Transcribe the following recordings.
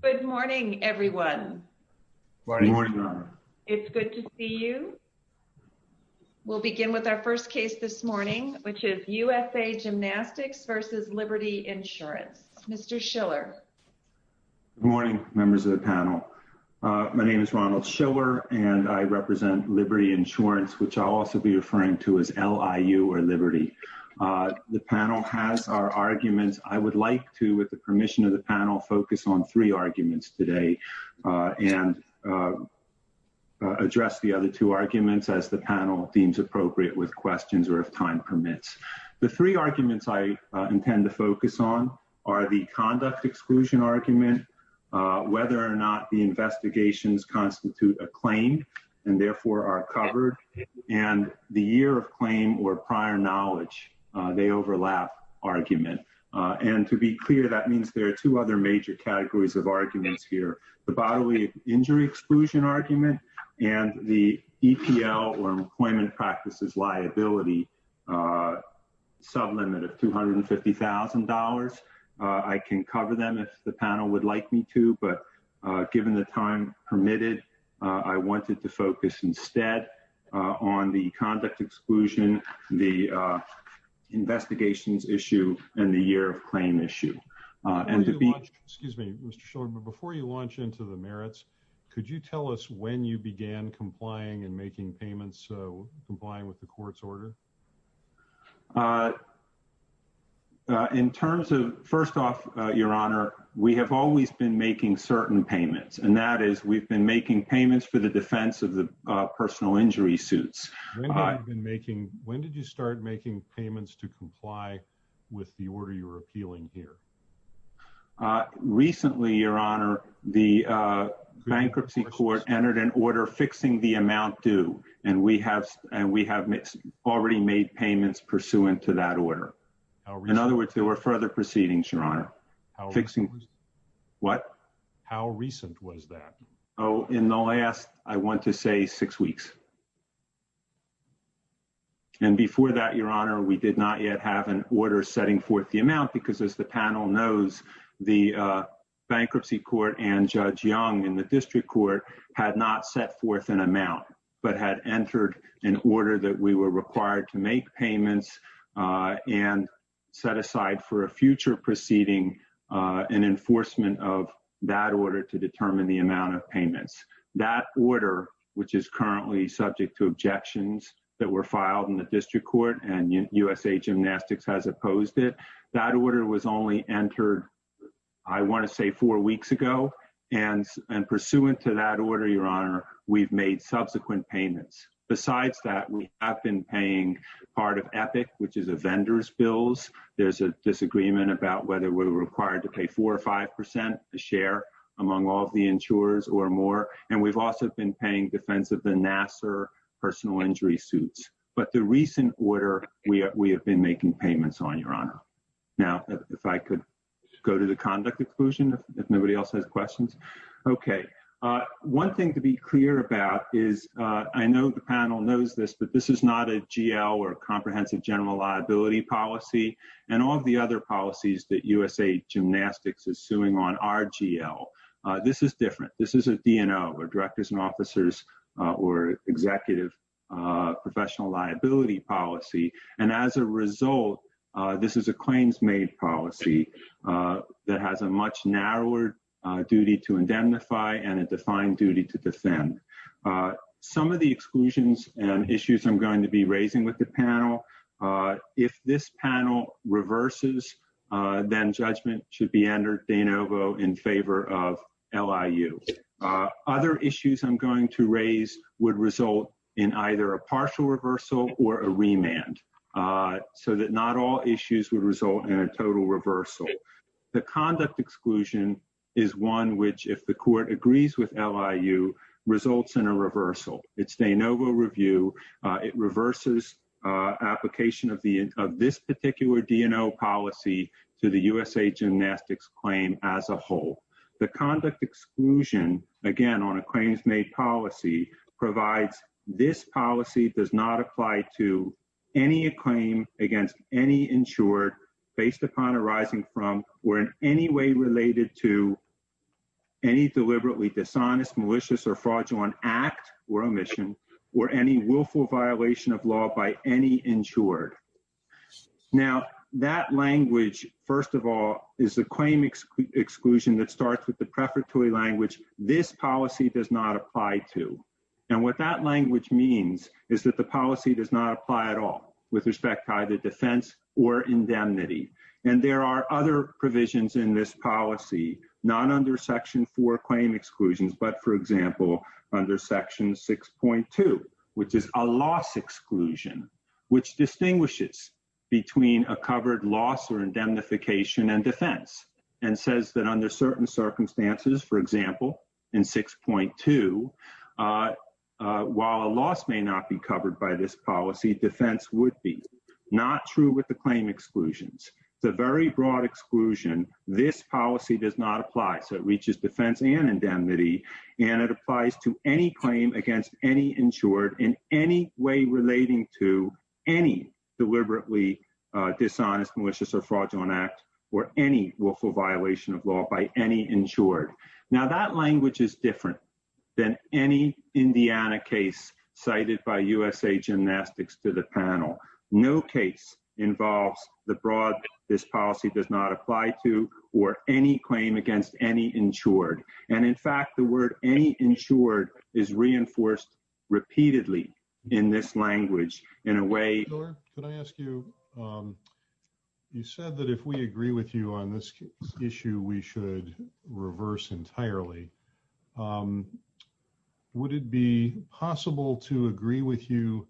Good morning everyone. It's good to see you. We'll begin with our first case this morning which is USA Gymnastics v. Liberty Insurance. Mr. Schiller. Good morning members of the panel. My name is Ronald Schiller and I represent Liberty Insurance which I'll also be referring to as LIU or Liberty. The panel has our arguments. I would like to with the permission of the panel focus on three arguments today and address the other two arguments as the panel deems appropriate with questions or if time permits. The three arguments I intend to focus on are the conduct exclusion argument whether or not the investigations constitute a claim and therefore are covered and the year of claim or prior knowledge. They overlap argument and to be clear that means there are two other major categories of arguments here. The bodily injury exclusion argument and the EPL or employment practices liability sublimit of $250,000. I can cover them if the panel would like me to but given the time permitted I wanted to focus instead on the conduct exclusion the issue and the year of claim issue. Before you launch into the merits could you tell us when you began complying and making payments so complying with the court's order? In terms of first off your honor we have always been making certain payments and that is we've been making payments for the defense of the personal injury suits. When did you start making payments to comply with the order you're appealing here? Recently your honor the bankruptcy court entered an order fixing the amount due and we have and we have already made payments pursuant to that order. In other words there were further proceedings your honor. Fixing what? How recent was that? Oh in the last I want to say six weeks and before that your honor we did not yet have an order setting forth the amount because as the panel knows the bankruptcy court and judge young in the district court had not set forth an amount but had entered an order that we were required to make payments and set aside for a future proceeding an enforcement of that order to determine the amount of payments. That order which is currently subject to objections that were filed in the district court and USA Gymnastics has opposed it that order was only entered I want to say four weeks ago and and pursuant to that order your honor we've made subsequent payments. Besides that we have been paying part of EPIC which is a vendor's bills. There's a disagreement about whether we're required to pay four or five percent a share among all the insurers or more and we've also been paying defense of the Nassar personal injury suits but the recent order we have been making payments on your honor. Now if I could go to the conduct exclusion if nobody else has questions. Okay one thing to be clear about is I know the panel knows this but this is not a GL or USA Gymnastics is suing on RGL. This is different this is a DNO or directors and officers or executive professional liability policy and as a result this is a claims made policy that has a much narrower duty to indemnify and a defined duty to defend. Some of the exclusions and issues I'm going to be raising with the panel if this panel reverses then judgment should be entered de novo in favor of LIU. Other issues I'm going to raise would result in either a partial reversal or a remand so that not all issues would result in a total reversal. The conduct exclusion is one which if the court agrees with LIU results in a reversal. It's de novo review it reverses application of the of this particular DNO policy to the USA Gymnastics claim as a whole. The conduct exclusion again on a claims made policy provides this policy does not apply to any claim against any insured based upon arising from or in any way related to any deliberately dishonest malicious or fraudulent act or omission or any willful violation of law by any insured. Now that language first of all is the claim exclusion that starts with the prefatory language this policy does not apply to and what that language means is that the policy does not apply at all with respect to either defense or indemnity and there are other provisions in this policy not under section 4 claim exclusions but for example under section 6.2 which is a loss exclusion which distinguishes between a covered loss or indemnification and defense and says that under certain circumstances for example in 6.2 while a loss may not be covered by this policy defense would be not true with the claim exclusions the very broad exclusion this policy does not apply so it reaches defense and indemnity and it applies to any claim against any insured in any way relating to any deliberately dishonest malicious or fraudulent act or any willful violation of law by any insured. Now that language is different than any Indiana case cited by USA Gymnastics to the panel. No case involves the broad this policy does not apply to or any claim against any insured and in fact the word any insured is reinforced repeatedly in this language in a way or could I ask you you said that if we agree with you on this issue we should reverse entirely. Would it be possible to agree with you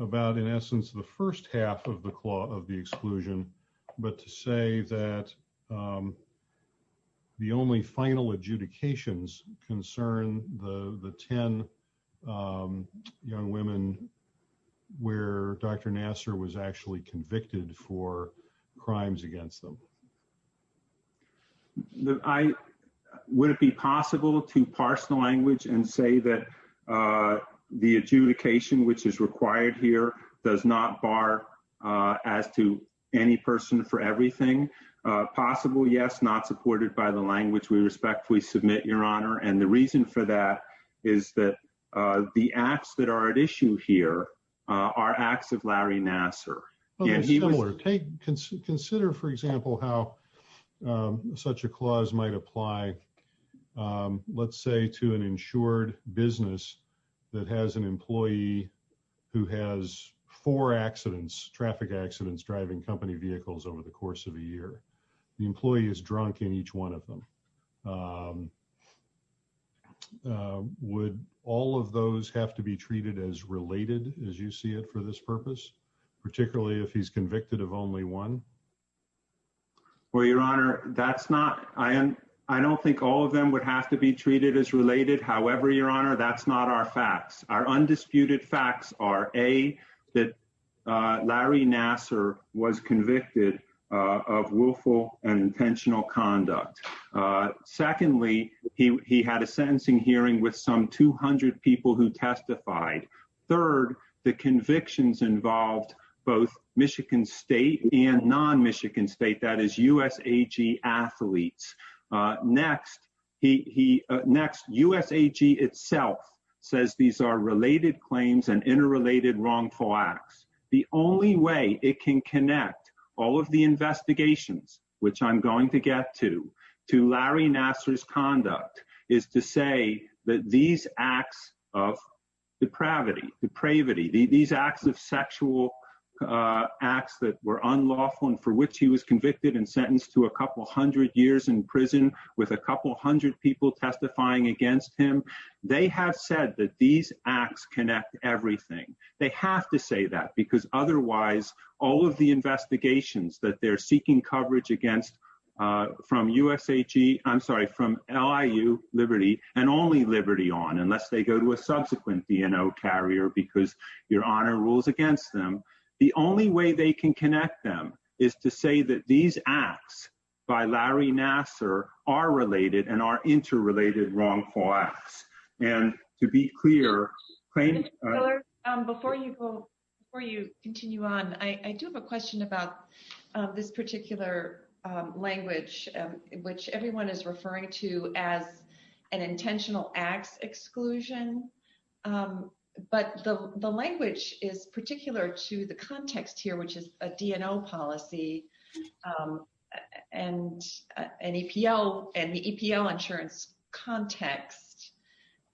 about in essence the first half of the claw of the exclusion but to say that the only final adjudications concern the the 10 young women where Dr. Nassar was actually against them. I would it be possible to parse the language and say that the adjudication which is required here does not bar as to any person for everything possible yes not supported by the language we respectfully submit your honor and the reason for that is that the acts that issue here are acts of Larry Nassar. Consider for example how such a clause might apply let's say to an insured business that has an employee who has four accidents traffic accidents driving company vehicles over the course of a year the employee is drunk in each one of them. Would all of those have to be treated as related as you see it for this purpose particularly if he's convicted of only one. Well your honor that's not I am I don't think all of them would have to be treated as related however your honor that's not our facts our undisputed facts are a that Larry Nassar was convicted of willful and intentional conduct. Secondly he had a sentencing hearing with some 200 people who testified. Third the convictions involved both Michigan state and non-Michigan state that is USAG athletes. Next he next USAG itself says these are related claims and interrelated wrongful acts. The only way it can connect all of the investigations which I'm going to get to to Larry Nassar's conduct is to say that these acts of depravity depravity these acts of sexual acts that were unlawful and for which he was convicted and sentenced to a couple hundred years in prison with a couple hundred people testifying against him they have said that these acts connect everything they have to say that because otherwise all of the investigations that they're seeking coverage against from USAG I'm sorry from LIU liberty and only liberty on unless they go to a subsequent BNO carrier because your honor rules against them the only way they can connect them is to say that these acts by Larry Nassar are related and are interrelated wrongful acts and to be clear before you go before you continue on I do have a question about this particular language which everyone is referring to as an intentional acts exclusion but the the language is particular to the context here which is a DNO policy um and an EPL and the EPL insurance context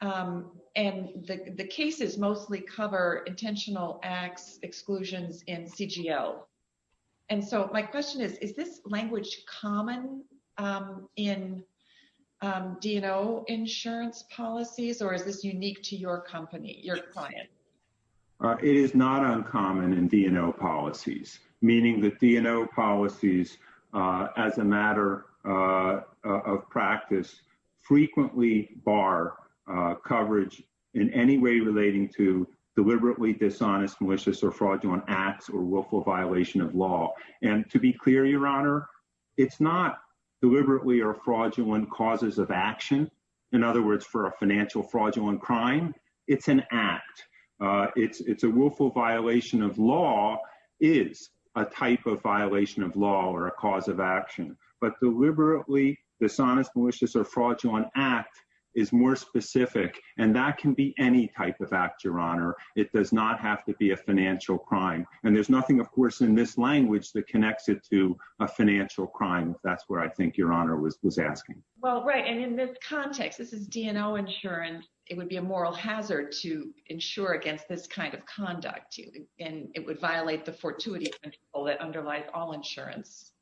um and the the cases mostly cover intentional acts exclusions in CGL and so my question is is this language common um in um DNO insurance policies or is this unique to your company your client it is not uncommon in DNO policies meaning that DNO policies as a matter of practice frequently bar coverage in any way relating to deliberately dishonest malicious or fraudulent acts or willful violation of law and to be clear your honor it's not deliberately or fraudulent causes of action in other words for a financial fraudulent crime it's an act uh it's it's a willful violation of law is a type of violation of law or a cause of action but deliberately dishonest malicious or fraudulent act is more specific and that can be any type of act your honor it does not have to be a financial crime and there's nothing of course in this language that connects it to a financial crime that's I think your honor was was asking well right and in this context this is DNO insurance it would be a moral hazard to insure against this kind of conduct and it would violate the fortuity control that underlies all insurance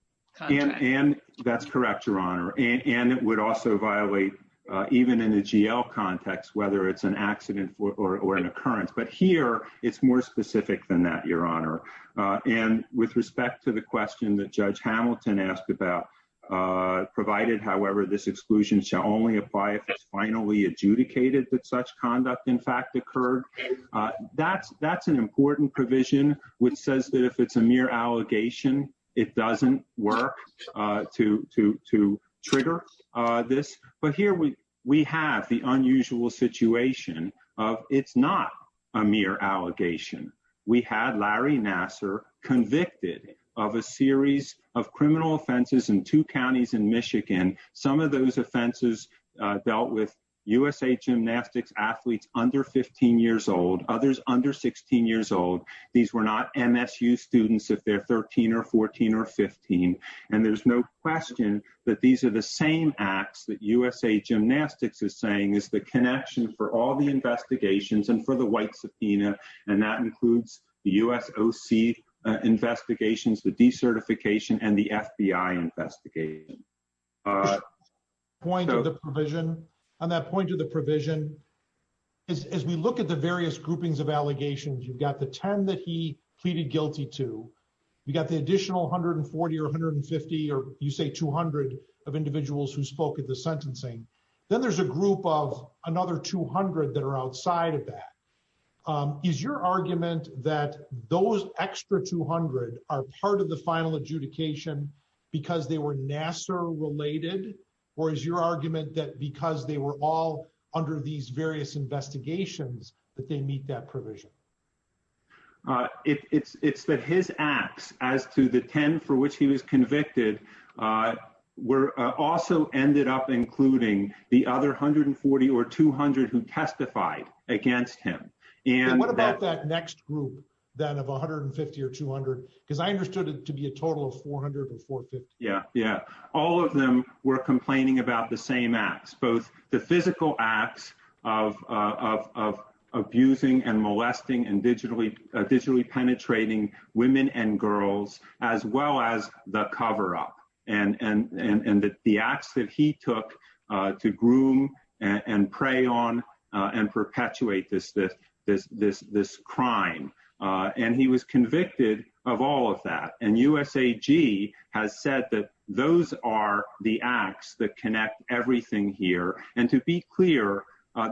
and that's correct your honor and it would also violate uh even in the GL context whether it's an accident or an occurrence but here it's more specific than that your honor uh and with respect to the question that Judge Hamilton asked about uh provided however this exclusion shall only apply if it's finally adjudicated that such conduct in fact occurred uh that's that's an important provision which says that if it's a mere allegation it doesn't work uh to to to trigger uh this but here we we have the unusual situation of it's not a mere allegation we had Larry Nassar convicted of a series of criminal offenses in two counties in Michigan some of those offenses dealt with USA Gymnastics athletes under 15 years old others under 16 years old these were not MSU students if they're 13 or 14 or 15 and there's no question that these are the same acts that USA Gymnastics is saying is the connection for all the and that includes the USOC investigations the decertification and the FBI investigation point of the provision on that point of the provision as we look at the various groupings of allegations you've got the 10 that he pleaded guilty to you got the additional 140 or 150 or you say 200 of individuals who spoke at the sentencing then there's a group of another 200 that are outside of that is your argument that those extra 200 are part of the final adjudication because they were Nassar related or is your argument that because they were all under these various investigations that they meet that provision it's it's that his acts as to the 10 for which he was convicted uh were also ended up including the other 140 or 200 who testified against him and what about that next group that of 150 or 200 because I understood it to be a total of 400 or 450 yeah yeah all of them were complaining about the same acts both the physical acts of of of abusing and molesting and digitally digitally women and girls as well as the cover-up and and and and that the acts that he took to groom and prey on and perpetuate this this this this this crime and he was convicted of all of that and USAG has said that those are the acts that connect everything here and to be clear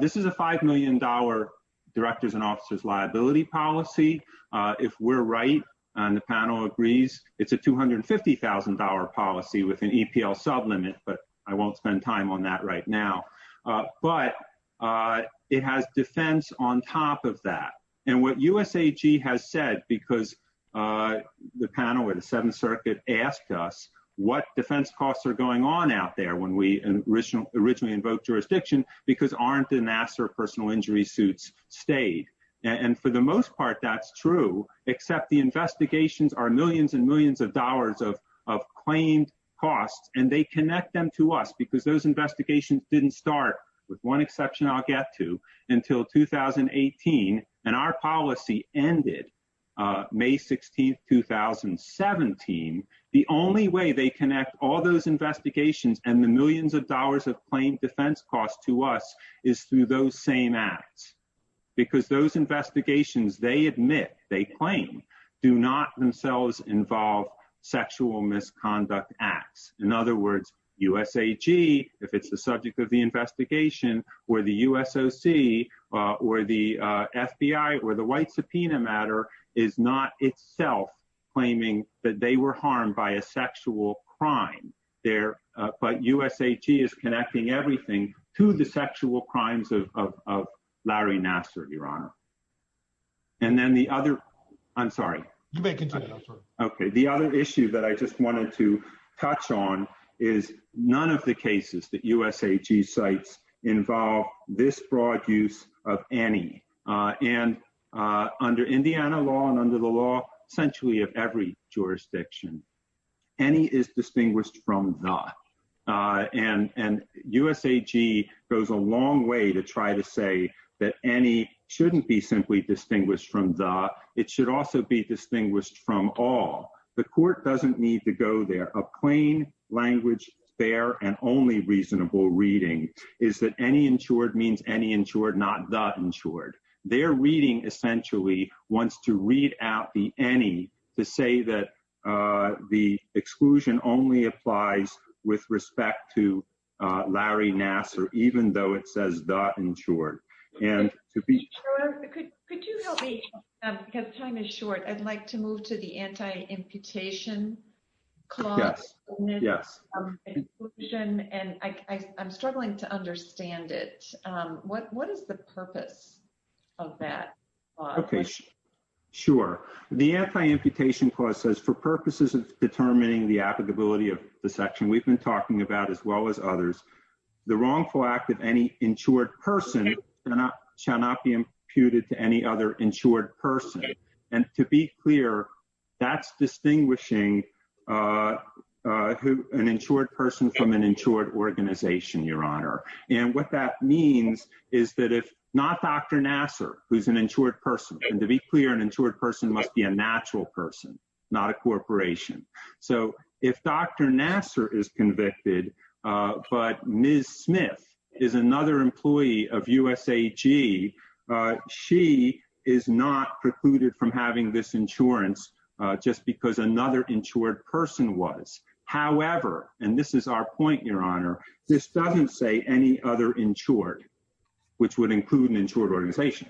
this is a five million dollar directors and officers liability policy uh if we're right and the panel agrees it's a 250,000 dollar policy with an EPL sublimit but I won't spend time on that right now uh but uh it has defense on top of that and what USAG has said because uh the panel or the seventh circuit asked us what defense costs are going on out there when we original originally invoke jurisdiction because aren't the Nassar personal injury suits stayed and for the most part that's true except the investigations are millions and millions of dollars of of claimed costs and they connect them to us because those investigations didn't start with one exception I'll get to until 2018 and our policy ended uh May 16th 2017 the only way they connect all those investigations and the millions of dollars of claimed defense costs to us is through those same acts because those investigations they admit they claim do not themselves involve sexual misconduct acts in other words USAG if it's the subject of the investigation or the USOC or the FBI or the but USAG is connecting everything to the sexual crimes of of Larry Nassar your honor and then the other I'm sorry you may continue okay the other issue that I just wanted to touch on is none of the cases that USAG cites involve this broad use of any uh and uh under uh and and USAG goes a long way to try to say that any shouldn't be simply distinguished from the it should also be distinguished from all the court doesn't need to go there a plain language fair and only reasonable reading is that any insured means any insured not that insured their reading essentially wants to read out the any to say that uh the exclusion only applies with respect to uh Larry Nassar even though it says that in short and to be sure could could you help me um because time is short I'd like to move to the anti-imputation clause yes yes exclusion and I I'm struggling to understand it um what what is the purpose of that okay sure the anti-imputation clause says for purposes of determining the applicability of the section we've been talking about as well as others the wrongful act of any insured person cannot shall not be imputed to any other insured person and to be clear that's distinguishing uh uh who an person from an insured organization your honor and what that means is that if not Dr. Nassar who's an insured person and to be clear an insured person must be a natural person not a corporation so if Dr. Nassar is convicted uh but Ms. Smith is another employee of USAG uh she is not precluded from having this insurance uh just because another insured person was however and this is our point your honor this doesn't say any other insured which would include an insured organization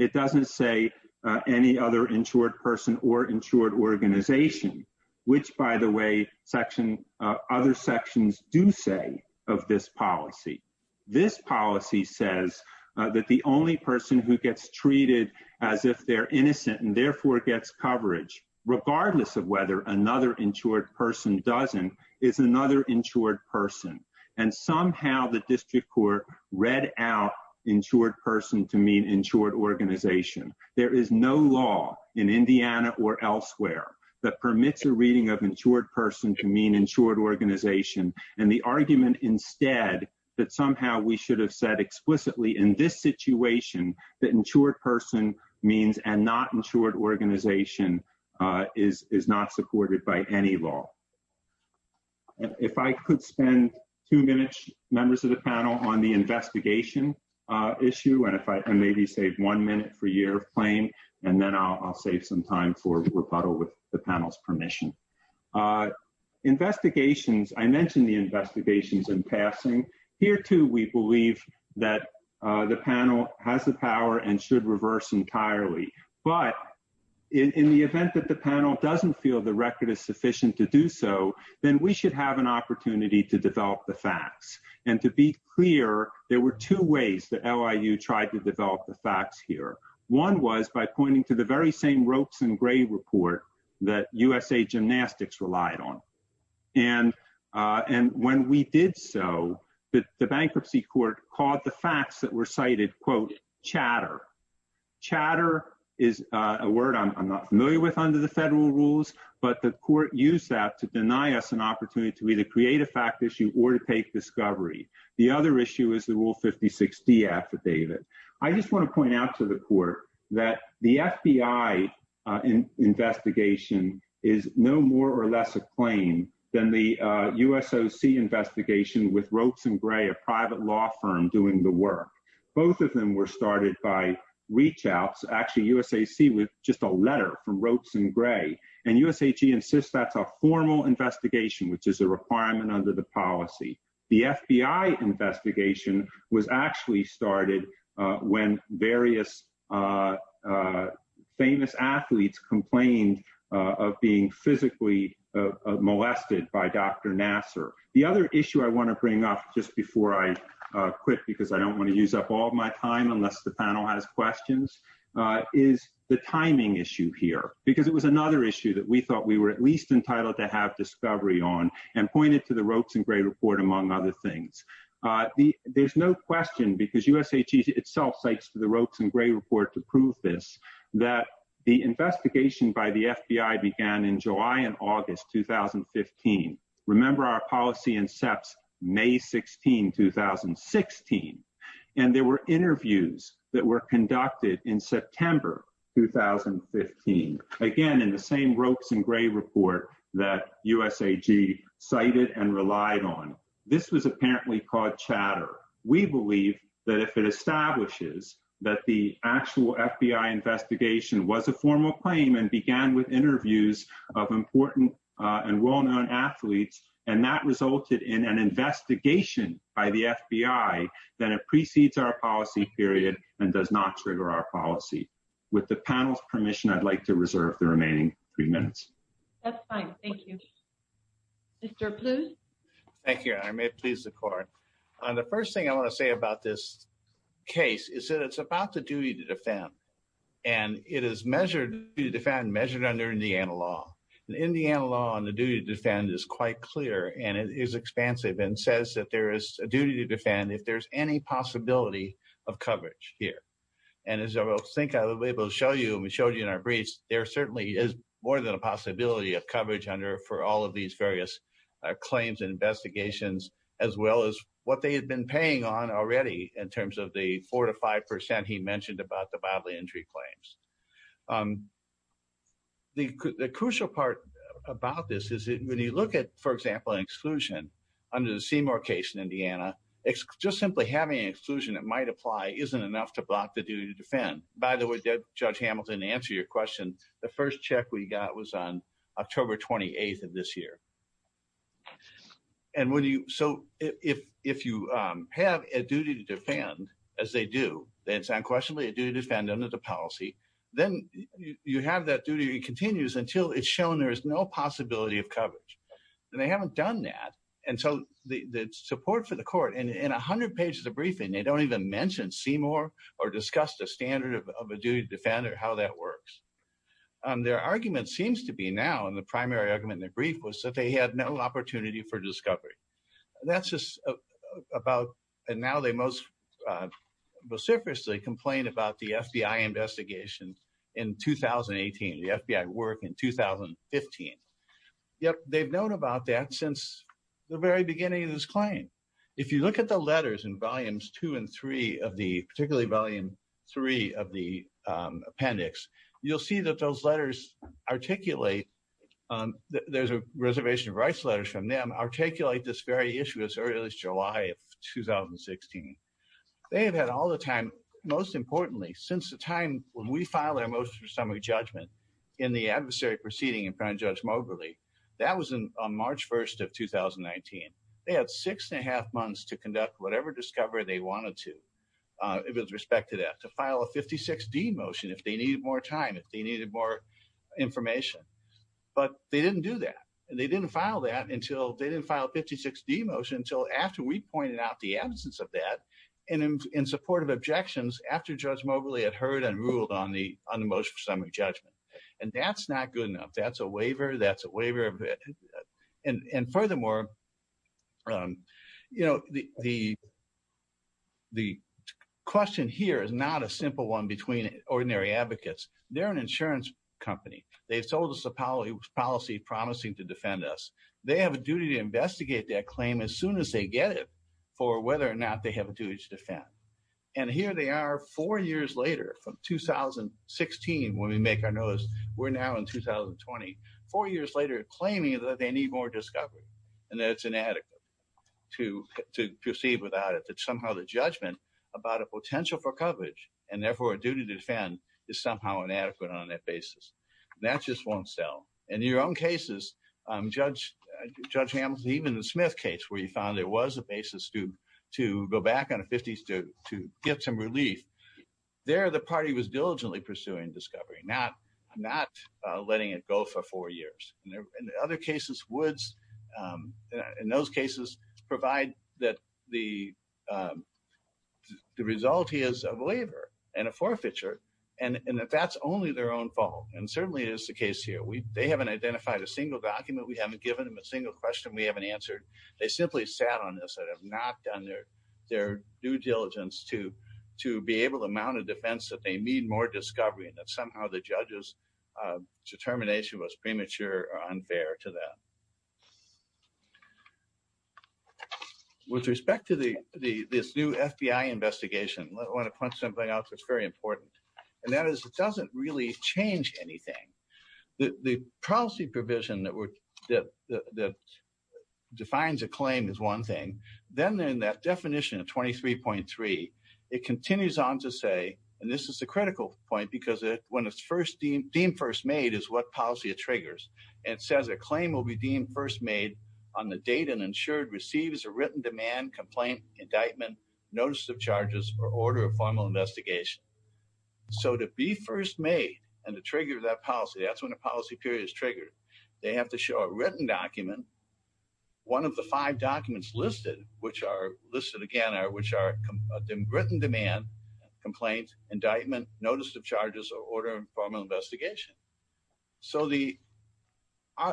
it doesn't say uh any other insured person or insured organization which by the way section uh other sections do say of this policy this policy says that the only person who gets treated as if they're innocent and therefore gets coverage regardless of whether another insured person doesn't is another insured person and somehow the district court read out insured person to mean insured organization there is no law in indiana or elsewhere that permits a reading of insured person to mean insured organization and the argument instead that somehow we should have said explicitly in this situation that insured person means and not insured organization uh is is not supported by any law if i could spend two minutes members of the panel on the investigation uh issue and if i maybe save one minute for year of claim and then i'll save some time for rebuttal with the panel's permission uh investigations i mentioned the investigations in here too we believe that uh the panel has the power and should reverse entirely but in the event that the panel doesn't feel the record is sufficient to do so then we should have an opportunity to develop the facts and to be clear there were two ways the liu tried to develop the facts here one was by pointing to the very same ropes and gray report that usa gymnastics relied on and uh and when we did so that the bankruptcy court called the facts that were cited quote chatter chatter is a word i'm not familiar with under the federal rules but the court used that to deny us an opportunity to either create a fact issue or to take discovery the other issue is the rule 56d affidavit i just want to point out to the court that the fbi uh in investigation is no more or less a claim than the uh usoc investigation with ropes and gray a private law firm doing the work both of them were started by reach outs actually usac with just a letter from ropes and gray and usag insists that's a formal investigation which is a requirement under the policy the fbi investigation was actually started uh when various uh uh famous athletes complained uh of being physically uh molested by dr nasser the other issue i want to bring up just before i uh quit because i don't want to use up all my time unless the panel has questions uh is the timing issue here because it was another issue that we thought we were at least entitled to have discovery on and pointed to the ropes and gray report among other things uh the there's no question because usag itself cites to the ropes and gray report to prove this that the investigation by the fbi began in july and august 2015 remember our policy incepts may 16 2016 and there were interviews that were conducted in september 2015 again in the same that if it establishes that the actual fbi investigation was a formal claim and began with interviews of important uh and well-known athletes and that resulted in an investigation by the fbi then it precedes our policy period and does not trigger our policy with the panel's permission i'd like to reserve the remaining three minutes that's fine thank you mr please thank you i may please the court on the first thing i want to say about this case is that it's about the duty to defend and it is measured to defend measured under indiana law indiana law and the duty to defend is quite clear and it is expansive and says that there is a duty to defend if there's any possibility of coverage here and as i will think i will be able to show you we showed you in our briefs there certainly is more than a possibility of coverage under for all of these various claims and investigations as well as what they had been paying on already in terms of the four to five percent he mentioned about the bodily injury claims the crucial part about this is when you look at for example an exclusion under the seymour case in indiana it's just simply having an exclusion that might apply isn't enough to block the duty to defend by the way judge hamilton to answer your question the first check we got was on and when you so if if you um have a duty to defend as they do then it's unquestionably a duty to defend under the policy then you have that duty it continues until it's shown there is no possibility of coverage and they haven't done that and so the support for the court and in 100 pages of briefing they don't even mention seymour or discuss the standard of a duty to defend or how that works um their argument seems to be now and the primary argument in the brief was that they had no opportunity for discovery that's just about and now they most uh vociferously complain about the fbi investigation in 2018 the fbi work in 2015 yep they've known about that since the very beginning of this claim if you look at the letters in volumes two and three of the particularly volume three of the appendix you'll see that those letters articulate um there's a reservation of rights letters from them articulate this very issue as early as july of 2016 they have had all the time most importantly since the time when we filed our motion for summary judgment in the adversary proceeding in front of judge moberly that was in on march 1st of 2019 they had six and a half months to conduct whatever discovery they wanted to uh with respect to that to file a 56d motion if they needed more time if they needed more information but they didn't do that and they didn't file that until they didn't file 56d motion until after we pointed out the absence of that and in support of objections after judge moberly had heard and ruled on the on the motion for summary judgment and that's not good enough that's a waiver that's a waiver and and furthermore um you know the the the question here is not a simple one between ordinary advocates they're an insurance company they've sold us a policy policy promising to defend us they have a duty to investigate that claim as soon as they get it for whether or not they have a duty to defend and here they are four years later from 2016 when we make our notice we're now in 2020 four years later claiming that they need more discovery and that it's inadequate to to proceed without it that somehow the judgment about a potential for coverage and therefore a duty to defend is somehow inadequate on that basis that just won't sell in your own cases um judge judge hamilton even the smith case where he found there was a basis to to go back on to get some relief there the party was diligently pursuing discovery not not uh letting it go for four years in other cases woods um in those cases provide that the um the result is a waiver and a forfeiture and and that that's only their own fault and certainly it is the case here we they haven't identified a single document we haven't given them a single question we haven't they simply sat on this and have not done their their due diligence to to be able to mount a defense that they need more discovery and that somehow the judge's uh determination was premature or unfair to them with respect to the the this new fbi investigation i want to point something out that's very important and that is it doesn't really change anything the the policy provision that were the the defines a claim is one thing then in that definition of 23.3 it continues on to say and this is the critical point because it when it's first deemed deemed first made is what policy it triggers it says a claim will be deemed first made on the date and ensured receives a written demand complaint indictment notice of charges or order of formal investigation so to be first made and the trigger of that policy that's when the policy period is triggered they have to show a written document one of the five documents listed which are listed again are which are written demand complaint indictment notice of charges or order and formal investigation so the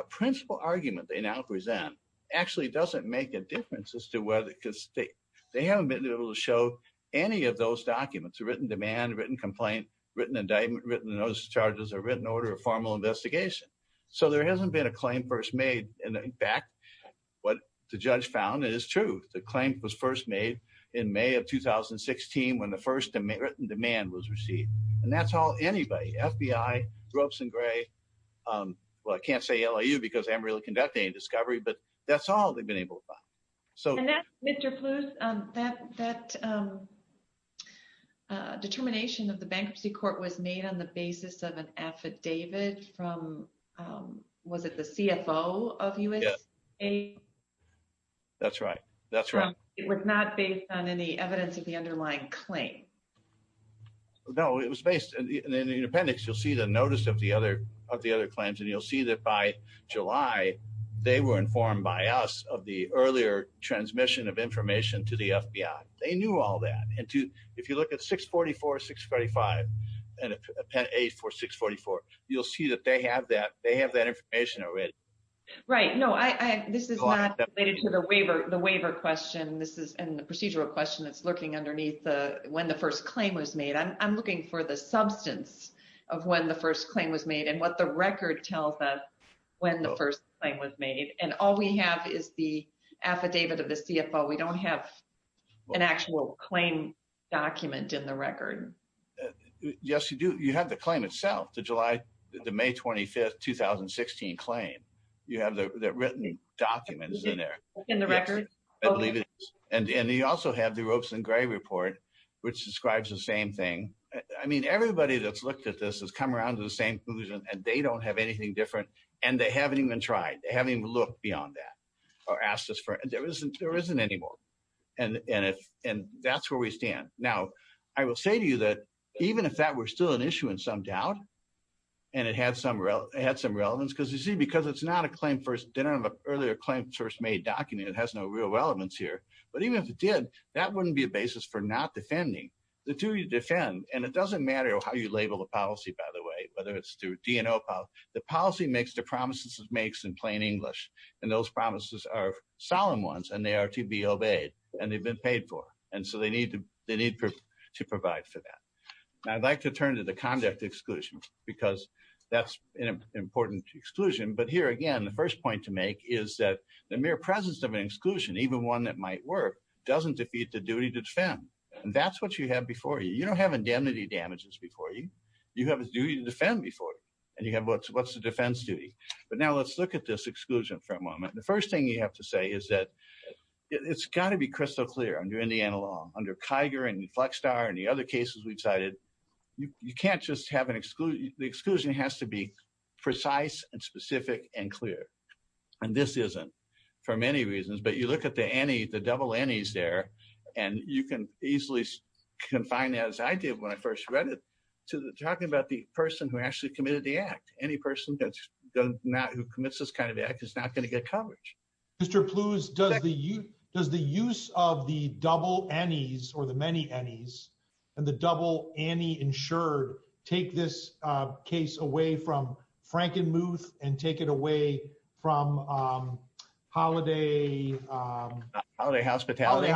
principal argument they now present actually doesn't make a difference as to whether because they they haven't been able to show any of those documents written demand written complaint written indictment written notice of charges or written order of formal investigation so there hasn't been a claim first made and in fact what the judge found is true the claim was first made in may of 2016 when the first written demand was received and that's all anybody fbi gropes and gray um well i can't say liu because i'm really conducting a discovery but that's all so and that's mr pluth um that that um uh determination of the bankruptcy court was made on the basis of an affidavit from um was it the cfo of us a that's right that's right it was not based on any evidence of the underlying claim no it was based in the independence you'll see the notice of the other of the other claims and you'll see that by us of the earlier transmission of information to the fbi they knew all that and to if you look at 644 645 and append a for 644 you'll see that they have that they have that information already right no i i this is not related to the waiver the waiver question this is and the procedural question that's lurking underneath the when the first claim was made i'm looking for the substance of when the first claim was made and what the record tells us when the first claim was made and all we have is the affidavit of the cfo we don't have an actual claim document in the record yes you do you have the claim itself the july the may 25th 2016 claim you have the written documents in there in the record i believe it and and you also have the ropes and gray report which describes the same thing i mean everybody that's looked at this has come around to the same conclusion and they don't have anything different and they haven't even tried they haven't even looked beyond that or asked us for and there isn't there isn't anymore and and if and that's where we stand now i will say to you that even if that were still an issue in some doubt and it had some real it had some relevance because you see because it's not a claim first didn't have an earlier claim first made document it has no real relevance here but even if it did that wouldn't be a basis for not defending the two you defend and it doesn't matter how you label the policy by the way whether it's dno the policy makes the promises it makes in plain english and those promises are solemn ones and they are to be obeyed and they've been paid for and so they need to they need to provide for that i'd like to turn to the conduct exclusion because that's an important exclusion but here again the first point to make is that the mere presence of an exclusion even one that might work doesn't defeat the duty to defend and that's what you have before you you don't have indemnity damages before you you have a duty to defend before you and you have what's what's the defense duty but now let's look at this exclusion for a moment the first thing you have to say is that it's got to be crystal clear under indiana law under kiger and flex star and the other cases we decided you can't just have an exclusion the exclusion has to be precise and specific and clear and this isn't for many reasons but you look at the any the double nes there and you can easily confine as i did when i first read it to talking about the person who actually committed the act any person that's not who commits this kind of act is not going to get coverage mr pluse does the you does the use of the double nes or the many nes and the double any insured take this uh case away from frankenmuth and take it away from um holiday um holiday hospitality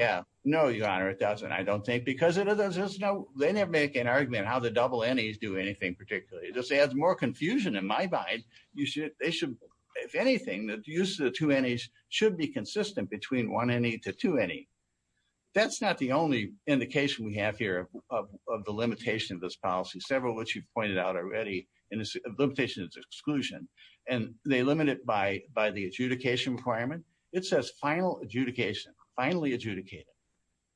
yeah no your honor it doesn't i don't think because it is there's no they never make an argument how the double nes do anything particularly this adds more confusion in my mind you should they should if anything the use of the two nes should be consistent between one any to two any that's not the only indication we have here of the limitation of this policy several which you've pointed out already and it's a limitation it's exclusion and they limit it by by the adjudication requirement it says final adjudication finally adjudicated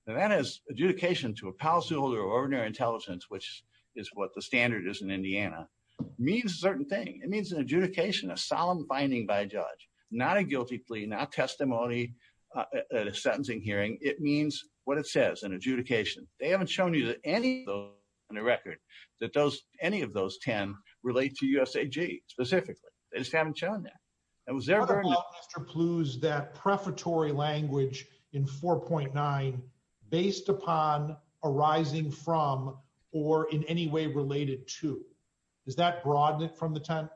and that is adjudication to a policyholder of ordinary intelligence which is what the standard is in indiana means a certain thing it means an adjudication a solemn finding by a judge not a guilty plea not testimony at a sentencing hearing it means what it says an adjudication they haven't shown you that any of those on the record that those any of those 10 relate to usag specifically they just haven't shown that that was ever mr plues that prefatory language in 4.9 based upon arising from or in any way related to does that broaden it from the time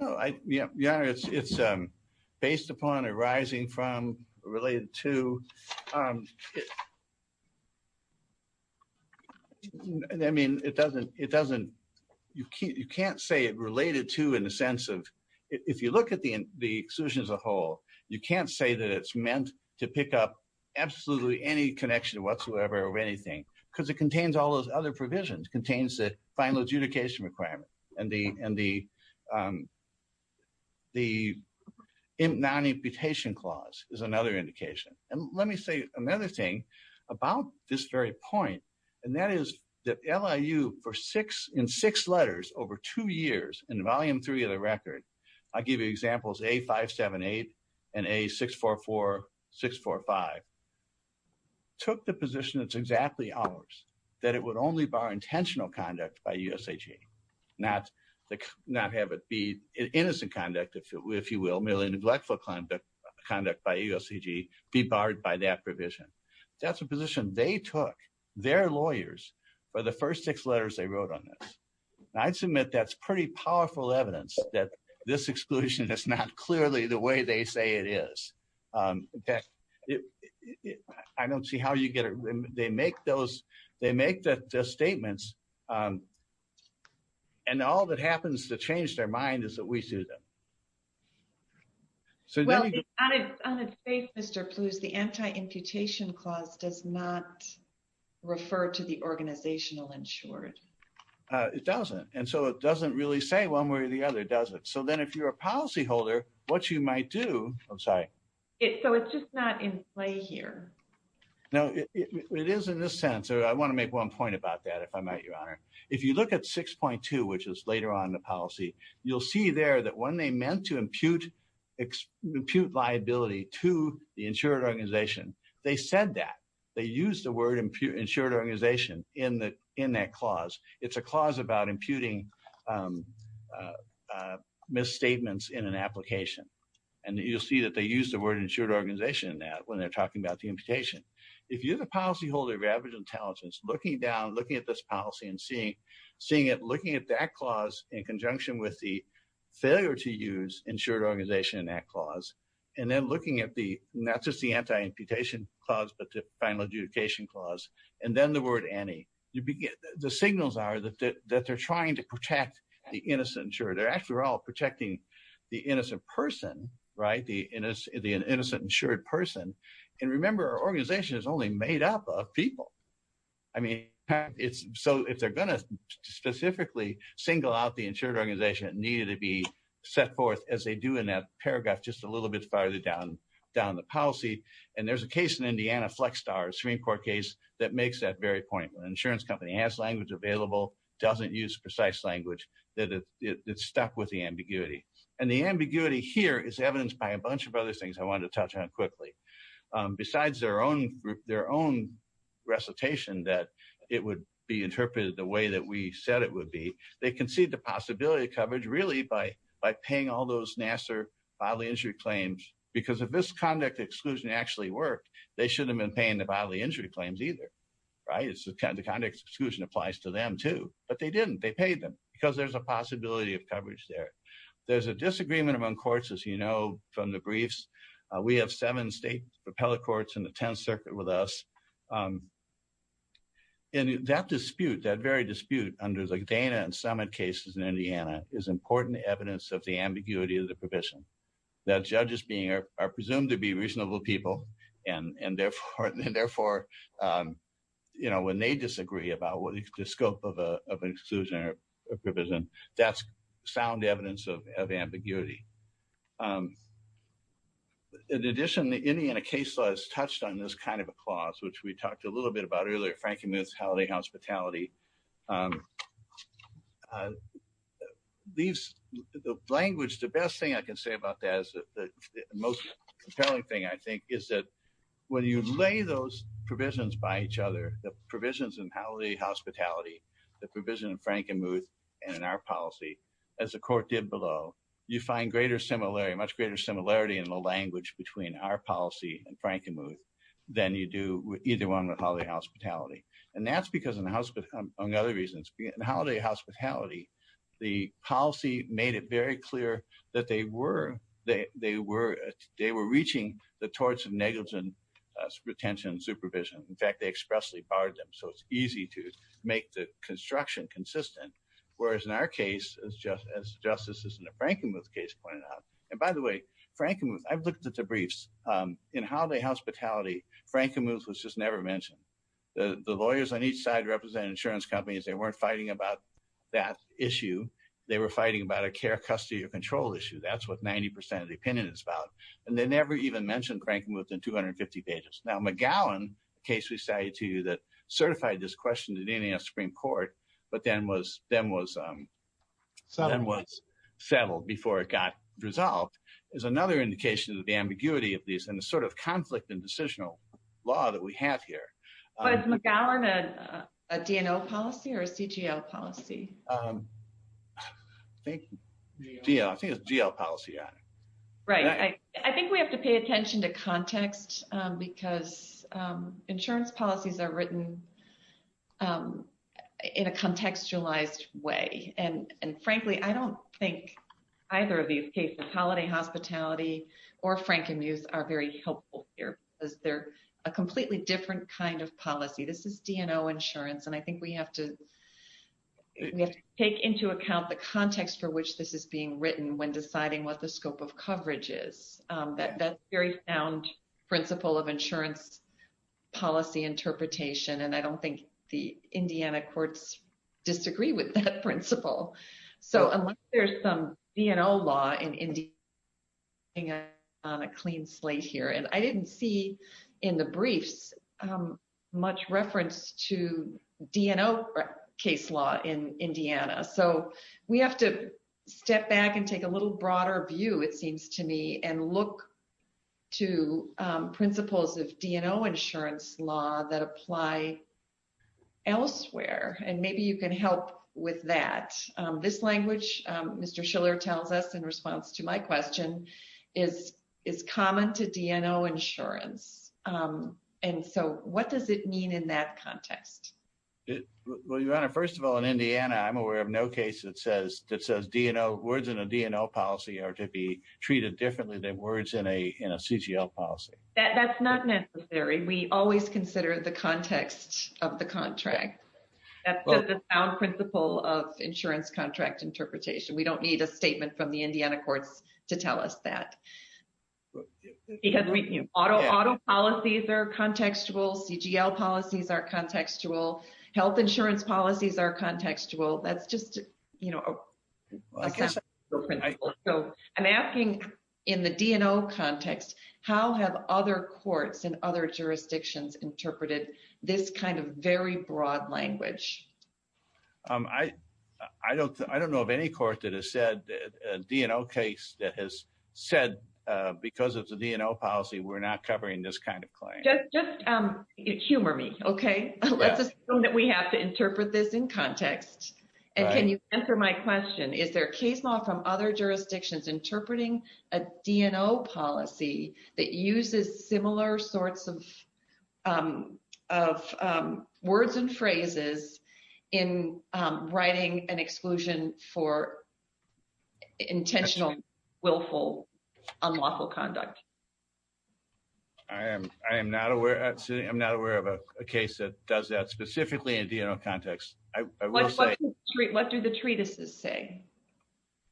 no i yeah yeah it's it's um based upon arising from related to um it i mean it doesn't it doesn't you can't you can't say it related to in the sense of if you look at the the exclusion as a whole you can't say that it's meant to pick up absolutely any connection whatsoever or anything because it contains all those other provisions contains the final adjudication requirement and the and the um the non-imputation clause is another indication and let me say another thing about this very point and that is that liu for six in six letters over two years in volume three of the record i give you examples a578 and a644645 took the position that's exactly ours that it would only bar intentional conduct by usag not like not have be innocent conduct if you will merely neglectful conduct by usag be barred by that provision that's a position they took their lawyers for the first six letters they wrote on this i'd submit that's pretty powerful evidence that this exclusion is not clearly the way they say it is um in fact i don't see how you get it they make those they make the statements um and all that happens to change their mind is that we do them so well on its face mr pluse the anti-imputation clause does not refer to the organizational insured uh it doesn't and so it doesn't really say one way or the other does it so then if you're a policy holder what you might do i'm sorry it so it's just not in play here now it is in this sense or i want to make one point about that if i might if you look at 6.2 which is later on the policy you'll see there that when they meant to impute impute liability to the insured organization they said that they used the word impute insured organization in the in that clause it's a clause about imputing um uh misstatements in an application and you'll see that they use the word insured organization in that when they're talking about the imputation if you're the policy holder of average intelligence looking down looking at this policy and seeing seeing it looking at that clause in conjunction with the failure to use insured organization in that clause and then looking at the not just the anti-imputation clause but the final adjudication clause and then the word any you begin the signals are that that they're trying to protect the innocent sure they're actually all protecting the innocent person right the innocent the innocent insured person and remember our organization is only made up of i mean it's so if they're going to specifically single out the insured organization it needed to be set forth as they do in that paragraph just a little bit farther down down the policy and there's a case in indiana flex star supreme court case that makes that very point when an insurance company has language available doesn't use precise language that it's stuck with the ambiguity and the ambiguity here is evidenced by a bunch of other things i wanted to touch on quickly besides their own their own recitation that it would be interpreted the way that we said it would be they concede the possibility of coverage really by by paying all those nasser bodily injury claims because if this conduct exclusion actually worked they shouldn't have been paying the bodily injury claims either right it's the kind of conduct exclusion applies to them too but they didn't they paid them because there's a possibility of coverage there there's a propeller courts in the 10th circuit with us um and that dispute that very dispute under the dana and summit cases in indiana is important evidence of the ambiguity of the provision that judges being are presumed to be reasonable people and and therefore and therefore um you know when they disagree about what the scope of a of an exclusion or a provision that's sound of ambiguity um in addition the indiana case law has touched on this kind of a clause which we talked a little bit about earlier frank and muth's holiday hospitality um these the language the best thing i can say about that is that the most compelling thing i think is that when you lay those provisions by each other the provisions in holiday hospitality the provision frank and muth and in our policy as the court did below you find greater similarity much greater similarity in the language between our policy and frank and muth than you do with either one with holiday hospitality and that's because in the house but on the other reasons in holiday hospitality the policy made it very clear that they were they they were they were reaching the torts of negligence retention supervision in fact they expressly barred them so it's easy to make the construction consistent whereas in our case as just as justice is in the frank and muth case pointed out and by the way frank and muth i've looked at the briefs um in holiday hospitality frank and muth was just never mentioned the the lawyers on each side represent insurance companies they weren't fighting about that issue they were fighting about a care custody or control issue that's what 90 of the opinion is about and they never even mentioned cranking within 250 pages now mcgowan case we say to you that certified this question to dns supreme court but then was then was um so then was settled before it got resolved is another indication of the ambiguity of these and the sort of conflict and decisional law that we have here was mcgowan a dno policy or cgl policy um i think yeah i think it's gl policy on it right i i think we have to pay attention to context because um insurance policies are written um in a contextualized way and and frankly i don't think either of these cases holiday hospitality or frank and muth are very helpful here because they're a completely different kind of policy this is dno insurance and i think we have to we have to take into account the context for which this is being written when deciding what the scope of coverage is um that that's very sound principle of insurance policy interpretation and i don't think the indiana courts disagree with that principle so unless there's some dno law in india on a clean slate here and i didn't see in the briefs um much reference to dno case law in indiana so we have to step back and take a little broader view it seems to me and look to um principles of dno insurance law that apply elsewhere and maybe you can help with that this language um mr schiller tells us in response to my question is is common to dno insurance um and so what does it mean in that context well your honor first of all in indiana i'm aware of no case that says that says dno words in a dno policy are to be treated differently than words in a in a cgl policy that that's not necessary we always consider the context of the contract that's just the sound principle of insurance contract interpretation we don't need a cgl policies are contextual health insurance policies are contextual that's just you know i'm asking in the dno context how have other courts in other jurisdictions interpreted this kind of very broad language um i i don't i don't know of any court that has said a dno case that has said uh because of the dno policy we're not covering this kind of claim um humor me okay let's assume that we have to interpret this in context and can you answer my question is there case law from other jurisdictions interpreting a dno policy that uses similar sorts of um of um words and phrases in um writing an exclusion for i'm not aware of a case that does that specifically in dno context what do the treatises say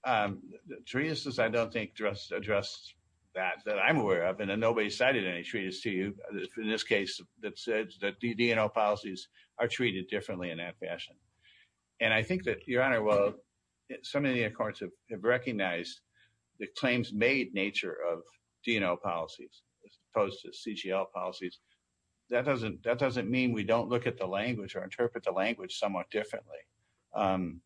um the treatises i don't think just addressed that that i'm aware of and nobody cited any treatise to you in this case that said that dno policies are treated differently in that fashion and i think that your honor well some of the courts have recognized the claims made nature of dno policies as opposed to cgl policies that doesn't that doesn't mean we don't look at the language or interpret the language somewhat differently um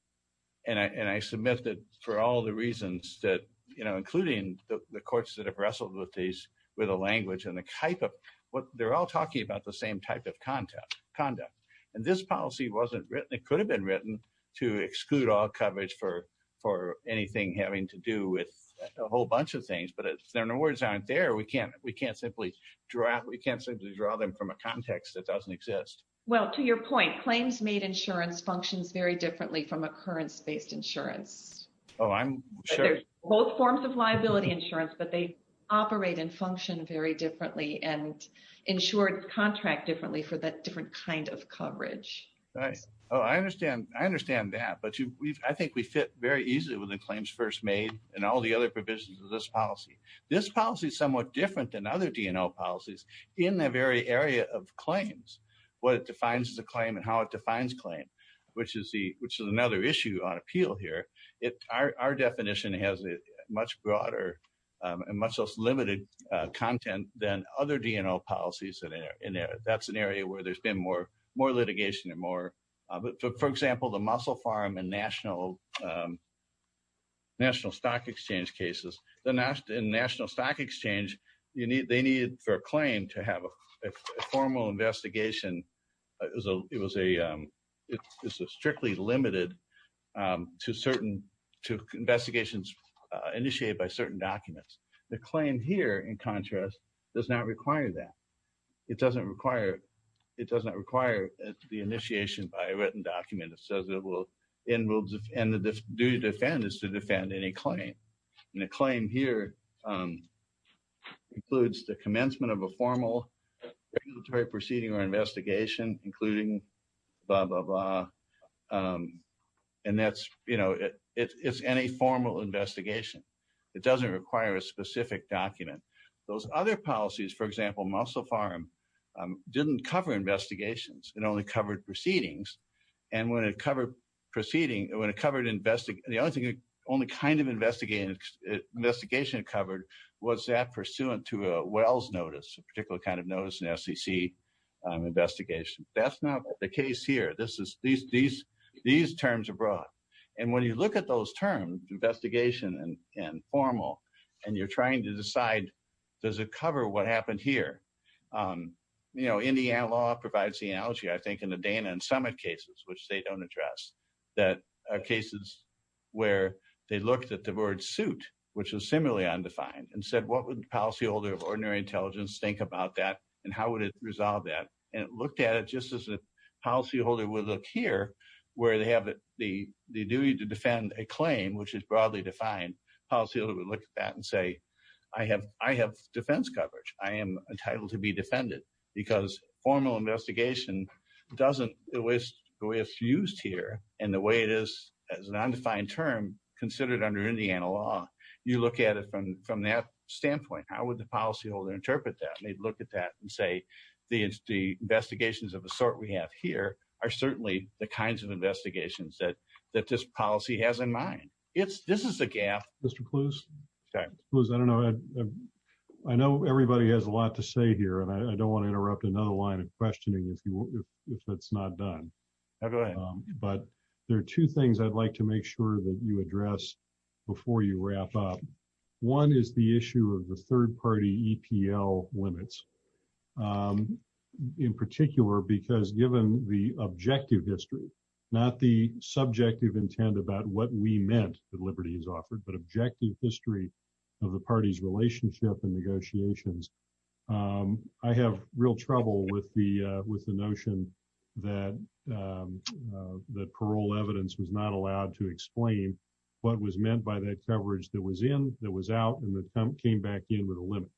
and i and i submit that for all the reasons that you know including the courts that have wrestled with these with a language and the type of what they're all talking about the same type of content conduct and this policy wasn't written it could have been written to exclude all coverage for for anything having to do with a whole bunch of things but if there are no words aren't there we can't we can't simply draw we can't simply draw them from a context that doesn't exist well to your point claims made insurance functions very differently from occurrence-based insurance oh i'm sure both forms of liability insurance but they operate and function very differently and insured contract differently for that different kind of coverage right oh i understand i understand that but you we've i think we fit very easily with the claims first made and all the other provisions of this policy this policy is somewhat different than other dno policies in the very area of claims what it defines the claim and how it defines claim which is the which is another issue on appeal here it our definition has a much broader um and much less limited uh content than other dno policies that are in there that's an area where there's been more more litigation and more uh but for example the mussel farm and national um national stock exchange cases the national stock exchange you need they needed for a claim to have a formal investigation it was a it was a um it was strictly limited um to certain to investigations uh initiated by certain documents the claim here in contrast does not require that it doesn't require it the initiation by a written document that says it will end rules and the duty to defend is to defend any claim and the claim here um includes the commencement of a formal regulatory proceeding or investigation including blah blah blah um and that's you know it it's any formal investigation it doesn't require a specific document those other policies for example mussel farm didn't cover investigations it only covered proceedings and when it covered proceeding when it covered invest the only thing only kind of investigated investigation covered was that pursuant to a wells notice a particular kind of notice an sec investigation that's not the case here this is these these these terms are brought and when you look at those terms investigation and and formal and you're trying to decide does it cover what happened here um you know indiana law provides the analogy i think in the dana and summit cases which they don't address that are cases where they looked at the word suit which is similarly undefined and said what would the policyholder of ordinary intelligence think about that and how would it resolve that and it looked at it just as a policyholder would look here where they have the the duty to defend a claim which is broadly defined policy would look at that and say i have i have defense coverage i am entitled to be defended because formal investigation doesn't waste the way it's used here and the way it is as an undefined term considered under indiana law you look at it from from that standpoint how would the policyholder interpret that they'd look at that and say the investigations of the sort we have here are certainly the kinds of investigations that that this policy has in mind it's this is a gap mr clues okay i don't know i know everybody has a lot to say here and i don't want to interrupt another line of questioning if you if that's not done but there are two things i'd like to make sure that you address before you wrap up one is the issue of the third party epl limits um in particular because given the objective history not the subjective intent about what we meant that liberty is offered but objective history of the party's relationship and negotiations um i have real trouble with the uh with the notion that um that parole evidence was not allowed to explain what was meant by that coverage that was in that was out and that came back in with a limit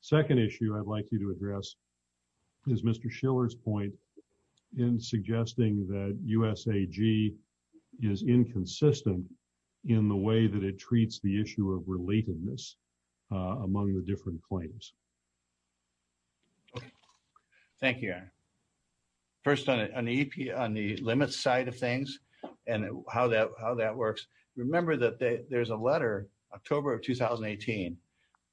second issue i'd like you address is mr schiller's point in suggesting that usag is inconsistent in the way that it treats the issue of relatedness among the different claims thank you first on the ep on the limits side of things and how that how that works remember that there's a letter october of 2018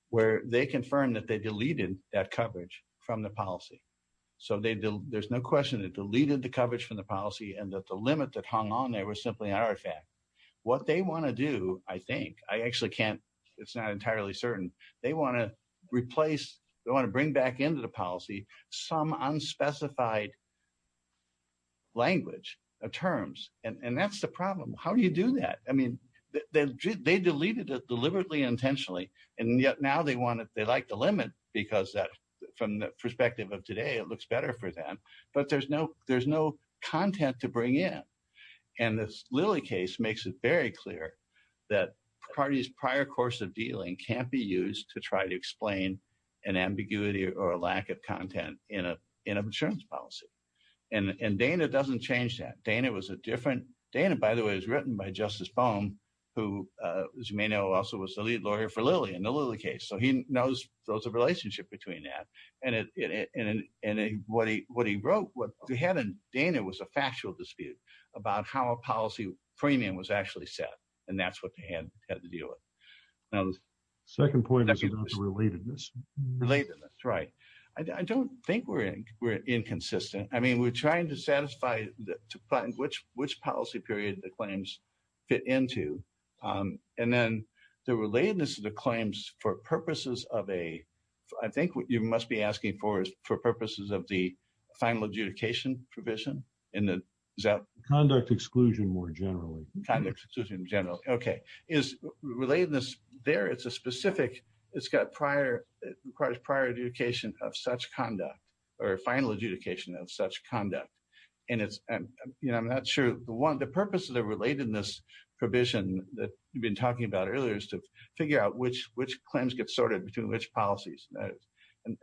where they confirmed that they deleted that coverage from the policy so they there's no question it deleted the coverage from the policy and that the limit that hung on there was simply an artifact what they want to do i think i actually can't it's not entirely certain they want to replace they want to bring back into the policy some unspecified language of terms and that's the problem how do you do that i mean they deleted it deliberately intentionally and yet now they want it they like the limit because that from the perspective of today it looks better for them but there's no there's no content to bring in and this lily case makes it very clear that parties prior course of dealing can't be used to try to explain an ambiguity or a lack of content in a in a insurance policy and and dana doesn't change that dana was a different dana by the way was written by justice foam who uh as you may know also was the lead lawyer for lily in the lily case so he knows there's a relationship between that and it and and what he what he wrote what he had in dana was a factual dispute about how a policy premium was actually set and that's what they had had to deal with now second point relatedness relatedness right i don't think we're in we're inconsistent i mean we're trying to satisfy to find which which policy period the claims fit into um and then the relatedness of the claims for purposes of a i think what you must be asking for is for purposes of the final adjudication provision in the conduct exclusion more generally kind of exclusion generally okay is relatedness there it's a specific it's got prior requires prior adjudication of such conduct or final adjudication of such conduct and it's you know i'm not sure the one the purpose of the relatedness provision that you've been talking about earlier is to figure out which which claims get sorted between which policies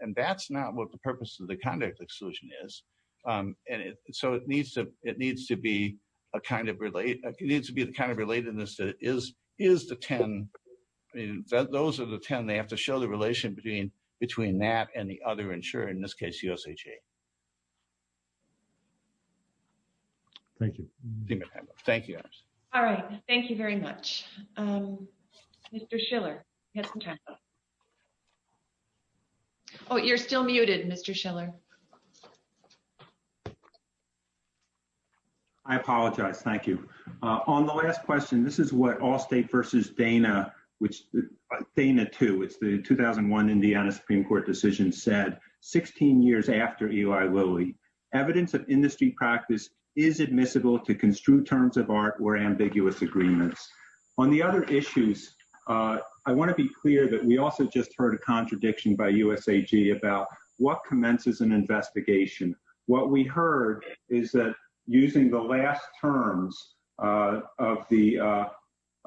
and that's not what the purpose of the conduct exclusion is um and it so it needs to it needs to be a kind of relate it needs to be the kind of relatedness that is is the 10 i mean those are the 10 they have to show the relation between between that and the other insurer in this case usha thank you thank you all right thank you very much um mr schiller get some time oh you're still muted mr schiller i apologize thank you uh on the last question this is what all state versus dana which dana 2 it's the 2001 indiana supreme court decision said 16 years after eli lily evidence of industry practice is admissible to construe terms of art or ambiguous agreements on the other issues uh i investigation what we heard is that using the last terms uh of the uh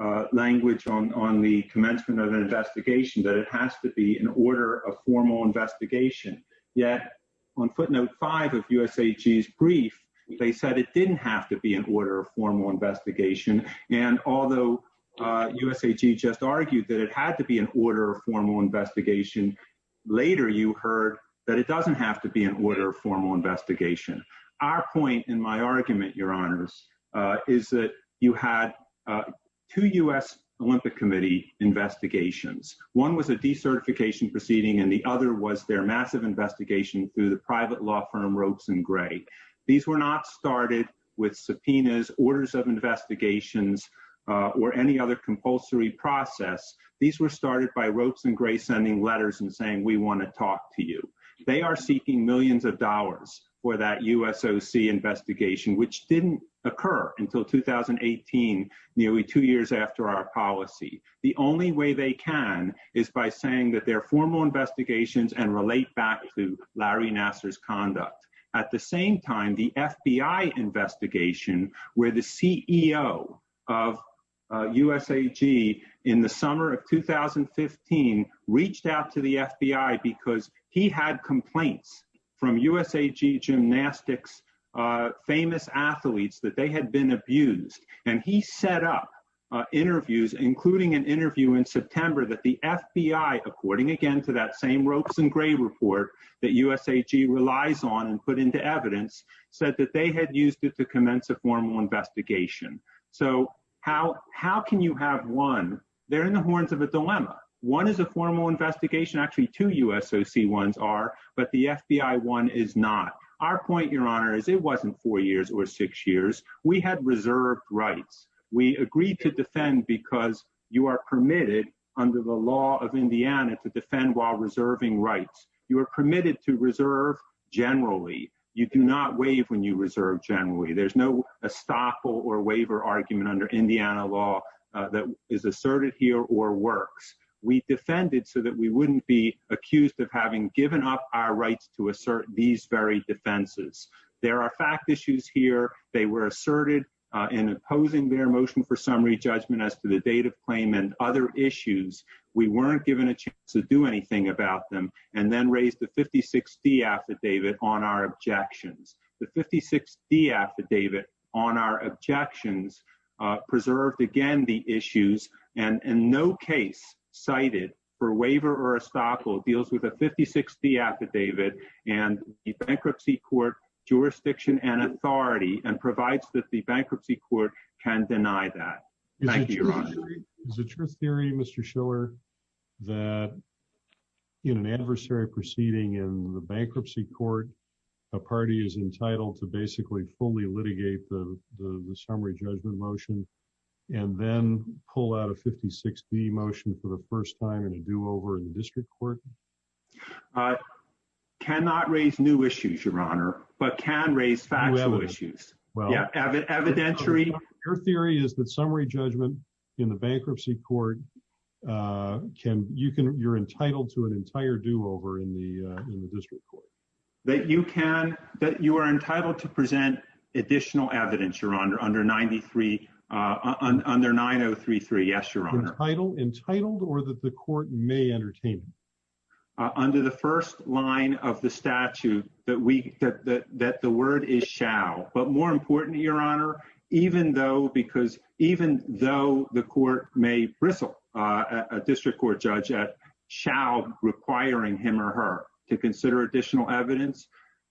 uh language on on the commencement of an investigation that it has to be in order of formal investigation yet on footnote five of usag's brief they said it didn't have to be in order of formal investigation and although uh usag just argued that it had to be in order of formal investigation later you heard that it doesn't have to be in order of formal investigation our point in my argument your honors uh is that you had uh two u.s olympic committee investigations one was a decertification proceeding and the other was their massive investigation through the private law firm ropes and gray these were not started with subpoenas orders of investigations uh or any other compulsory process these were of dollars for that usoc investigation which didn't occur until 2018 nearly two years after our policy the only way they can is by saying that their formal investigations and relate back to larry nasser's conduct at the same time the fbi investigation where the ceo of usag in the summer of 2015 reached out to the fbi because he had complaints from usag gymnastics uh famous athletes that they had been abused and he set up uh interviews including an interview in september that the fbi according again to that same ropes and gray report that usag relies on and put into evidence said that they had used it to commence a formal investigation so how how can you have one they're in the horns of a dilemma one is a formal investigation actually two usoc ones are but the fbi one is not our point your honor is it wasn't four years or six years we had reserved rights we agreed to defend because you are permitted under the law of indiana to defend while reserving rights you are permitted to reserve generally you do not waive when you reserve generally there's no estoppel or waiver argument under indiana law that is asserted here or works we defended so that we wouldn't be accused of having given up our rights to assert these very defenses there are fact issues here they were asserted uh in opposing their motion for summary judgment as to the date of claim and other issues we weren't given a chance to do anything about them and then the 56d affidavit on our objections the 56d affidavit on our objections uh preserved again the issues and in no case cited for waiver or estoppel deals with a 56d affidavit and the bankruptcy court jurisdiction and authority and provides that the bankruptcy court can deny that thank you your honor is it your theory mr schiller that in an adversary proceeding in the bankruptcy court a party is entitled to basically fully litigate the the summary judgment motion and then pull out a 56d motion for the first time in a do-over in the district court uh cannot raise new issues your honor but can raise factual issues well yeah evidentiary your theory is that summary judgment in the bankruptcy court uh can you can you're entitled to an entire do-over in the uh in the district court that you can that you are entitled to present additional evidence your honor under 93 uh under 9033 yes your honor title entitled or that the court may entertain under the first line of the statute that we that that that the word is but more important your honor even though because even though the court may bristle uh a district court judge at shall requiring him or her to consider additional evidence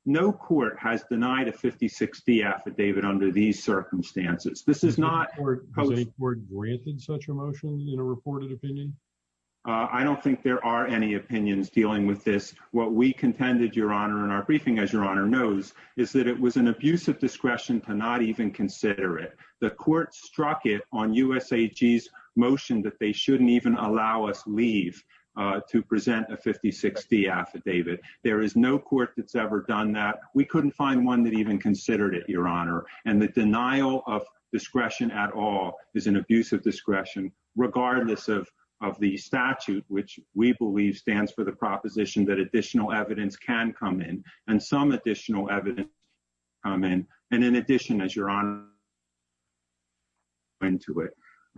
no court has denied a 56d affidavit under these circumstances this is not a court granted such a motion in a reported opinion uh i don't think there are any opinions dealing with this what we contended your honor in our briefing as your honor knows is that it was an abuse of discretion to not even consider it the court struck it on usag's motion that they shouldn't even allow us leave uh to present a 56d affidavit there is no court that's ever done that we couldn't find one that even considered it your honor and the denial of discretion at all is an abuse of discretion regardless of of the and some additional evidence come in and in addition as your honor into it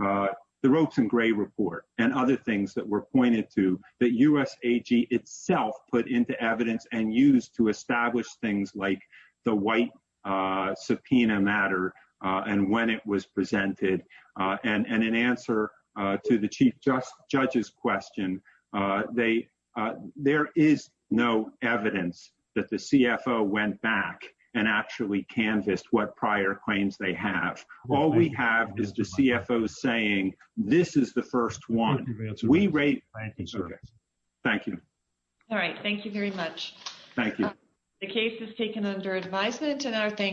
uh the ropes and gray report and other things that were pointed to that usag itself put into evidence and used to establish things like the white uh subpoena matter uh and when it was presented uh and and in answer uh to the chief just judge's question uh they uh there is no evidence that the cfo went back and actually canvassed what prior claims they have all we have is the cfo saying this is the first one we rate thank you all right thank you very much thank you the case is taken under advisement and our thanks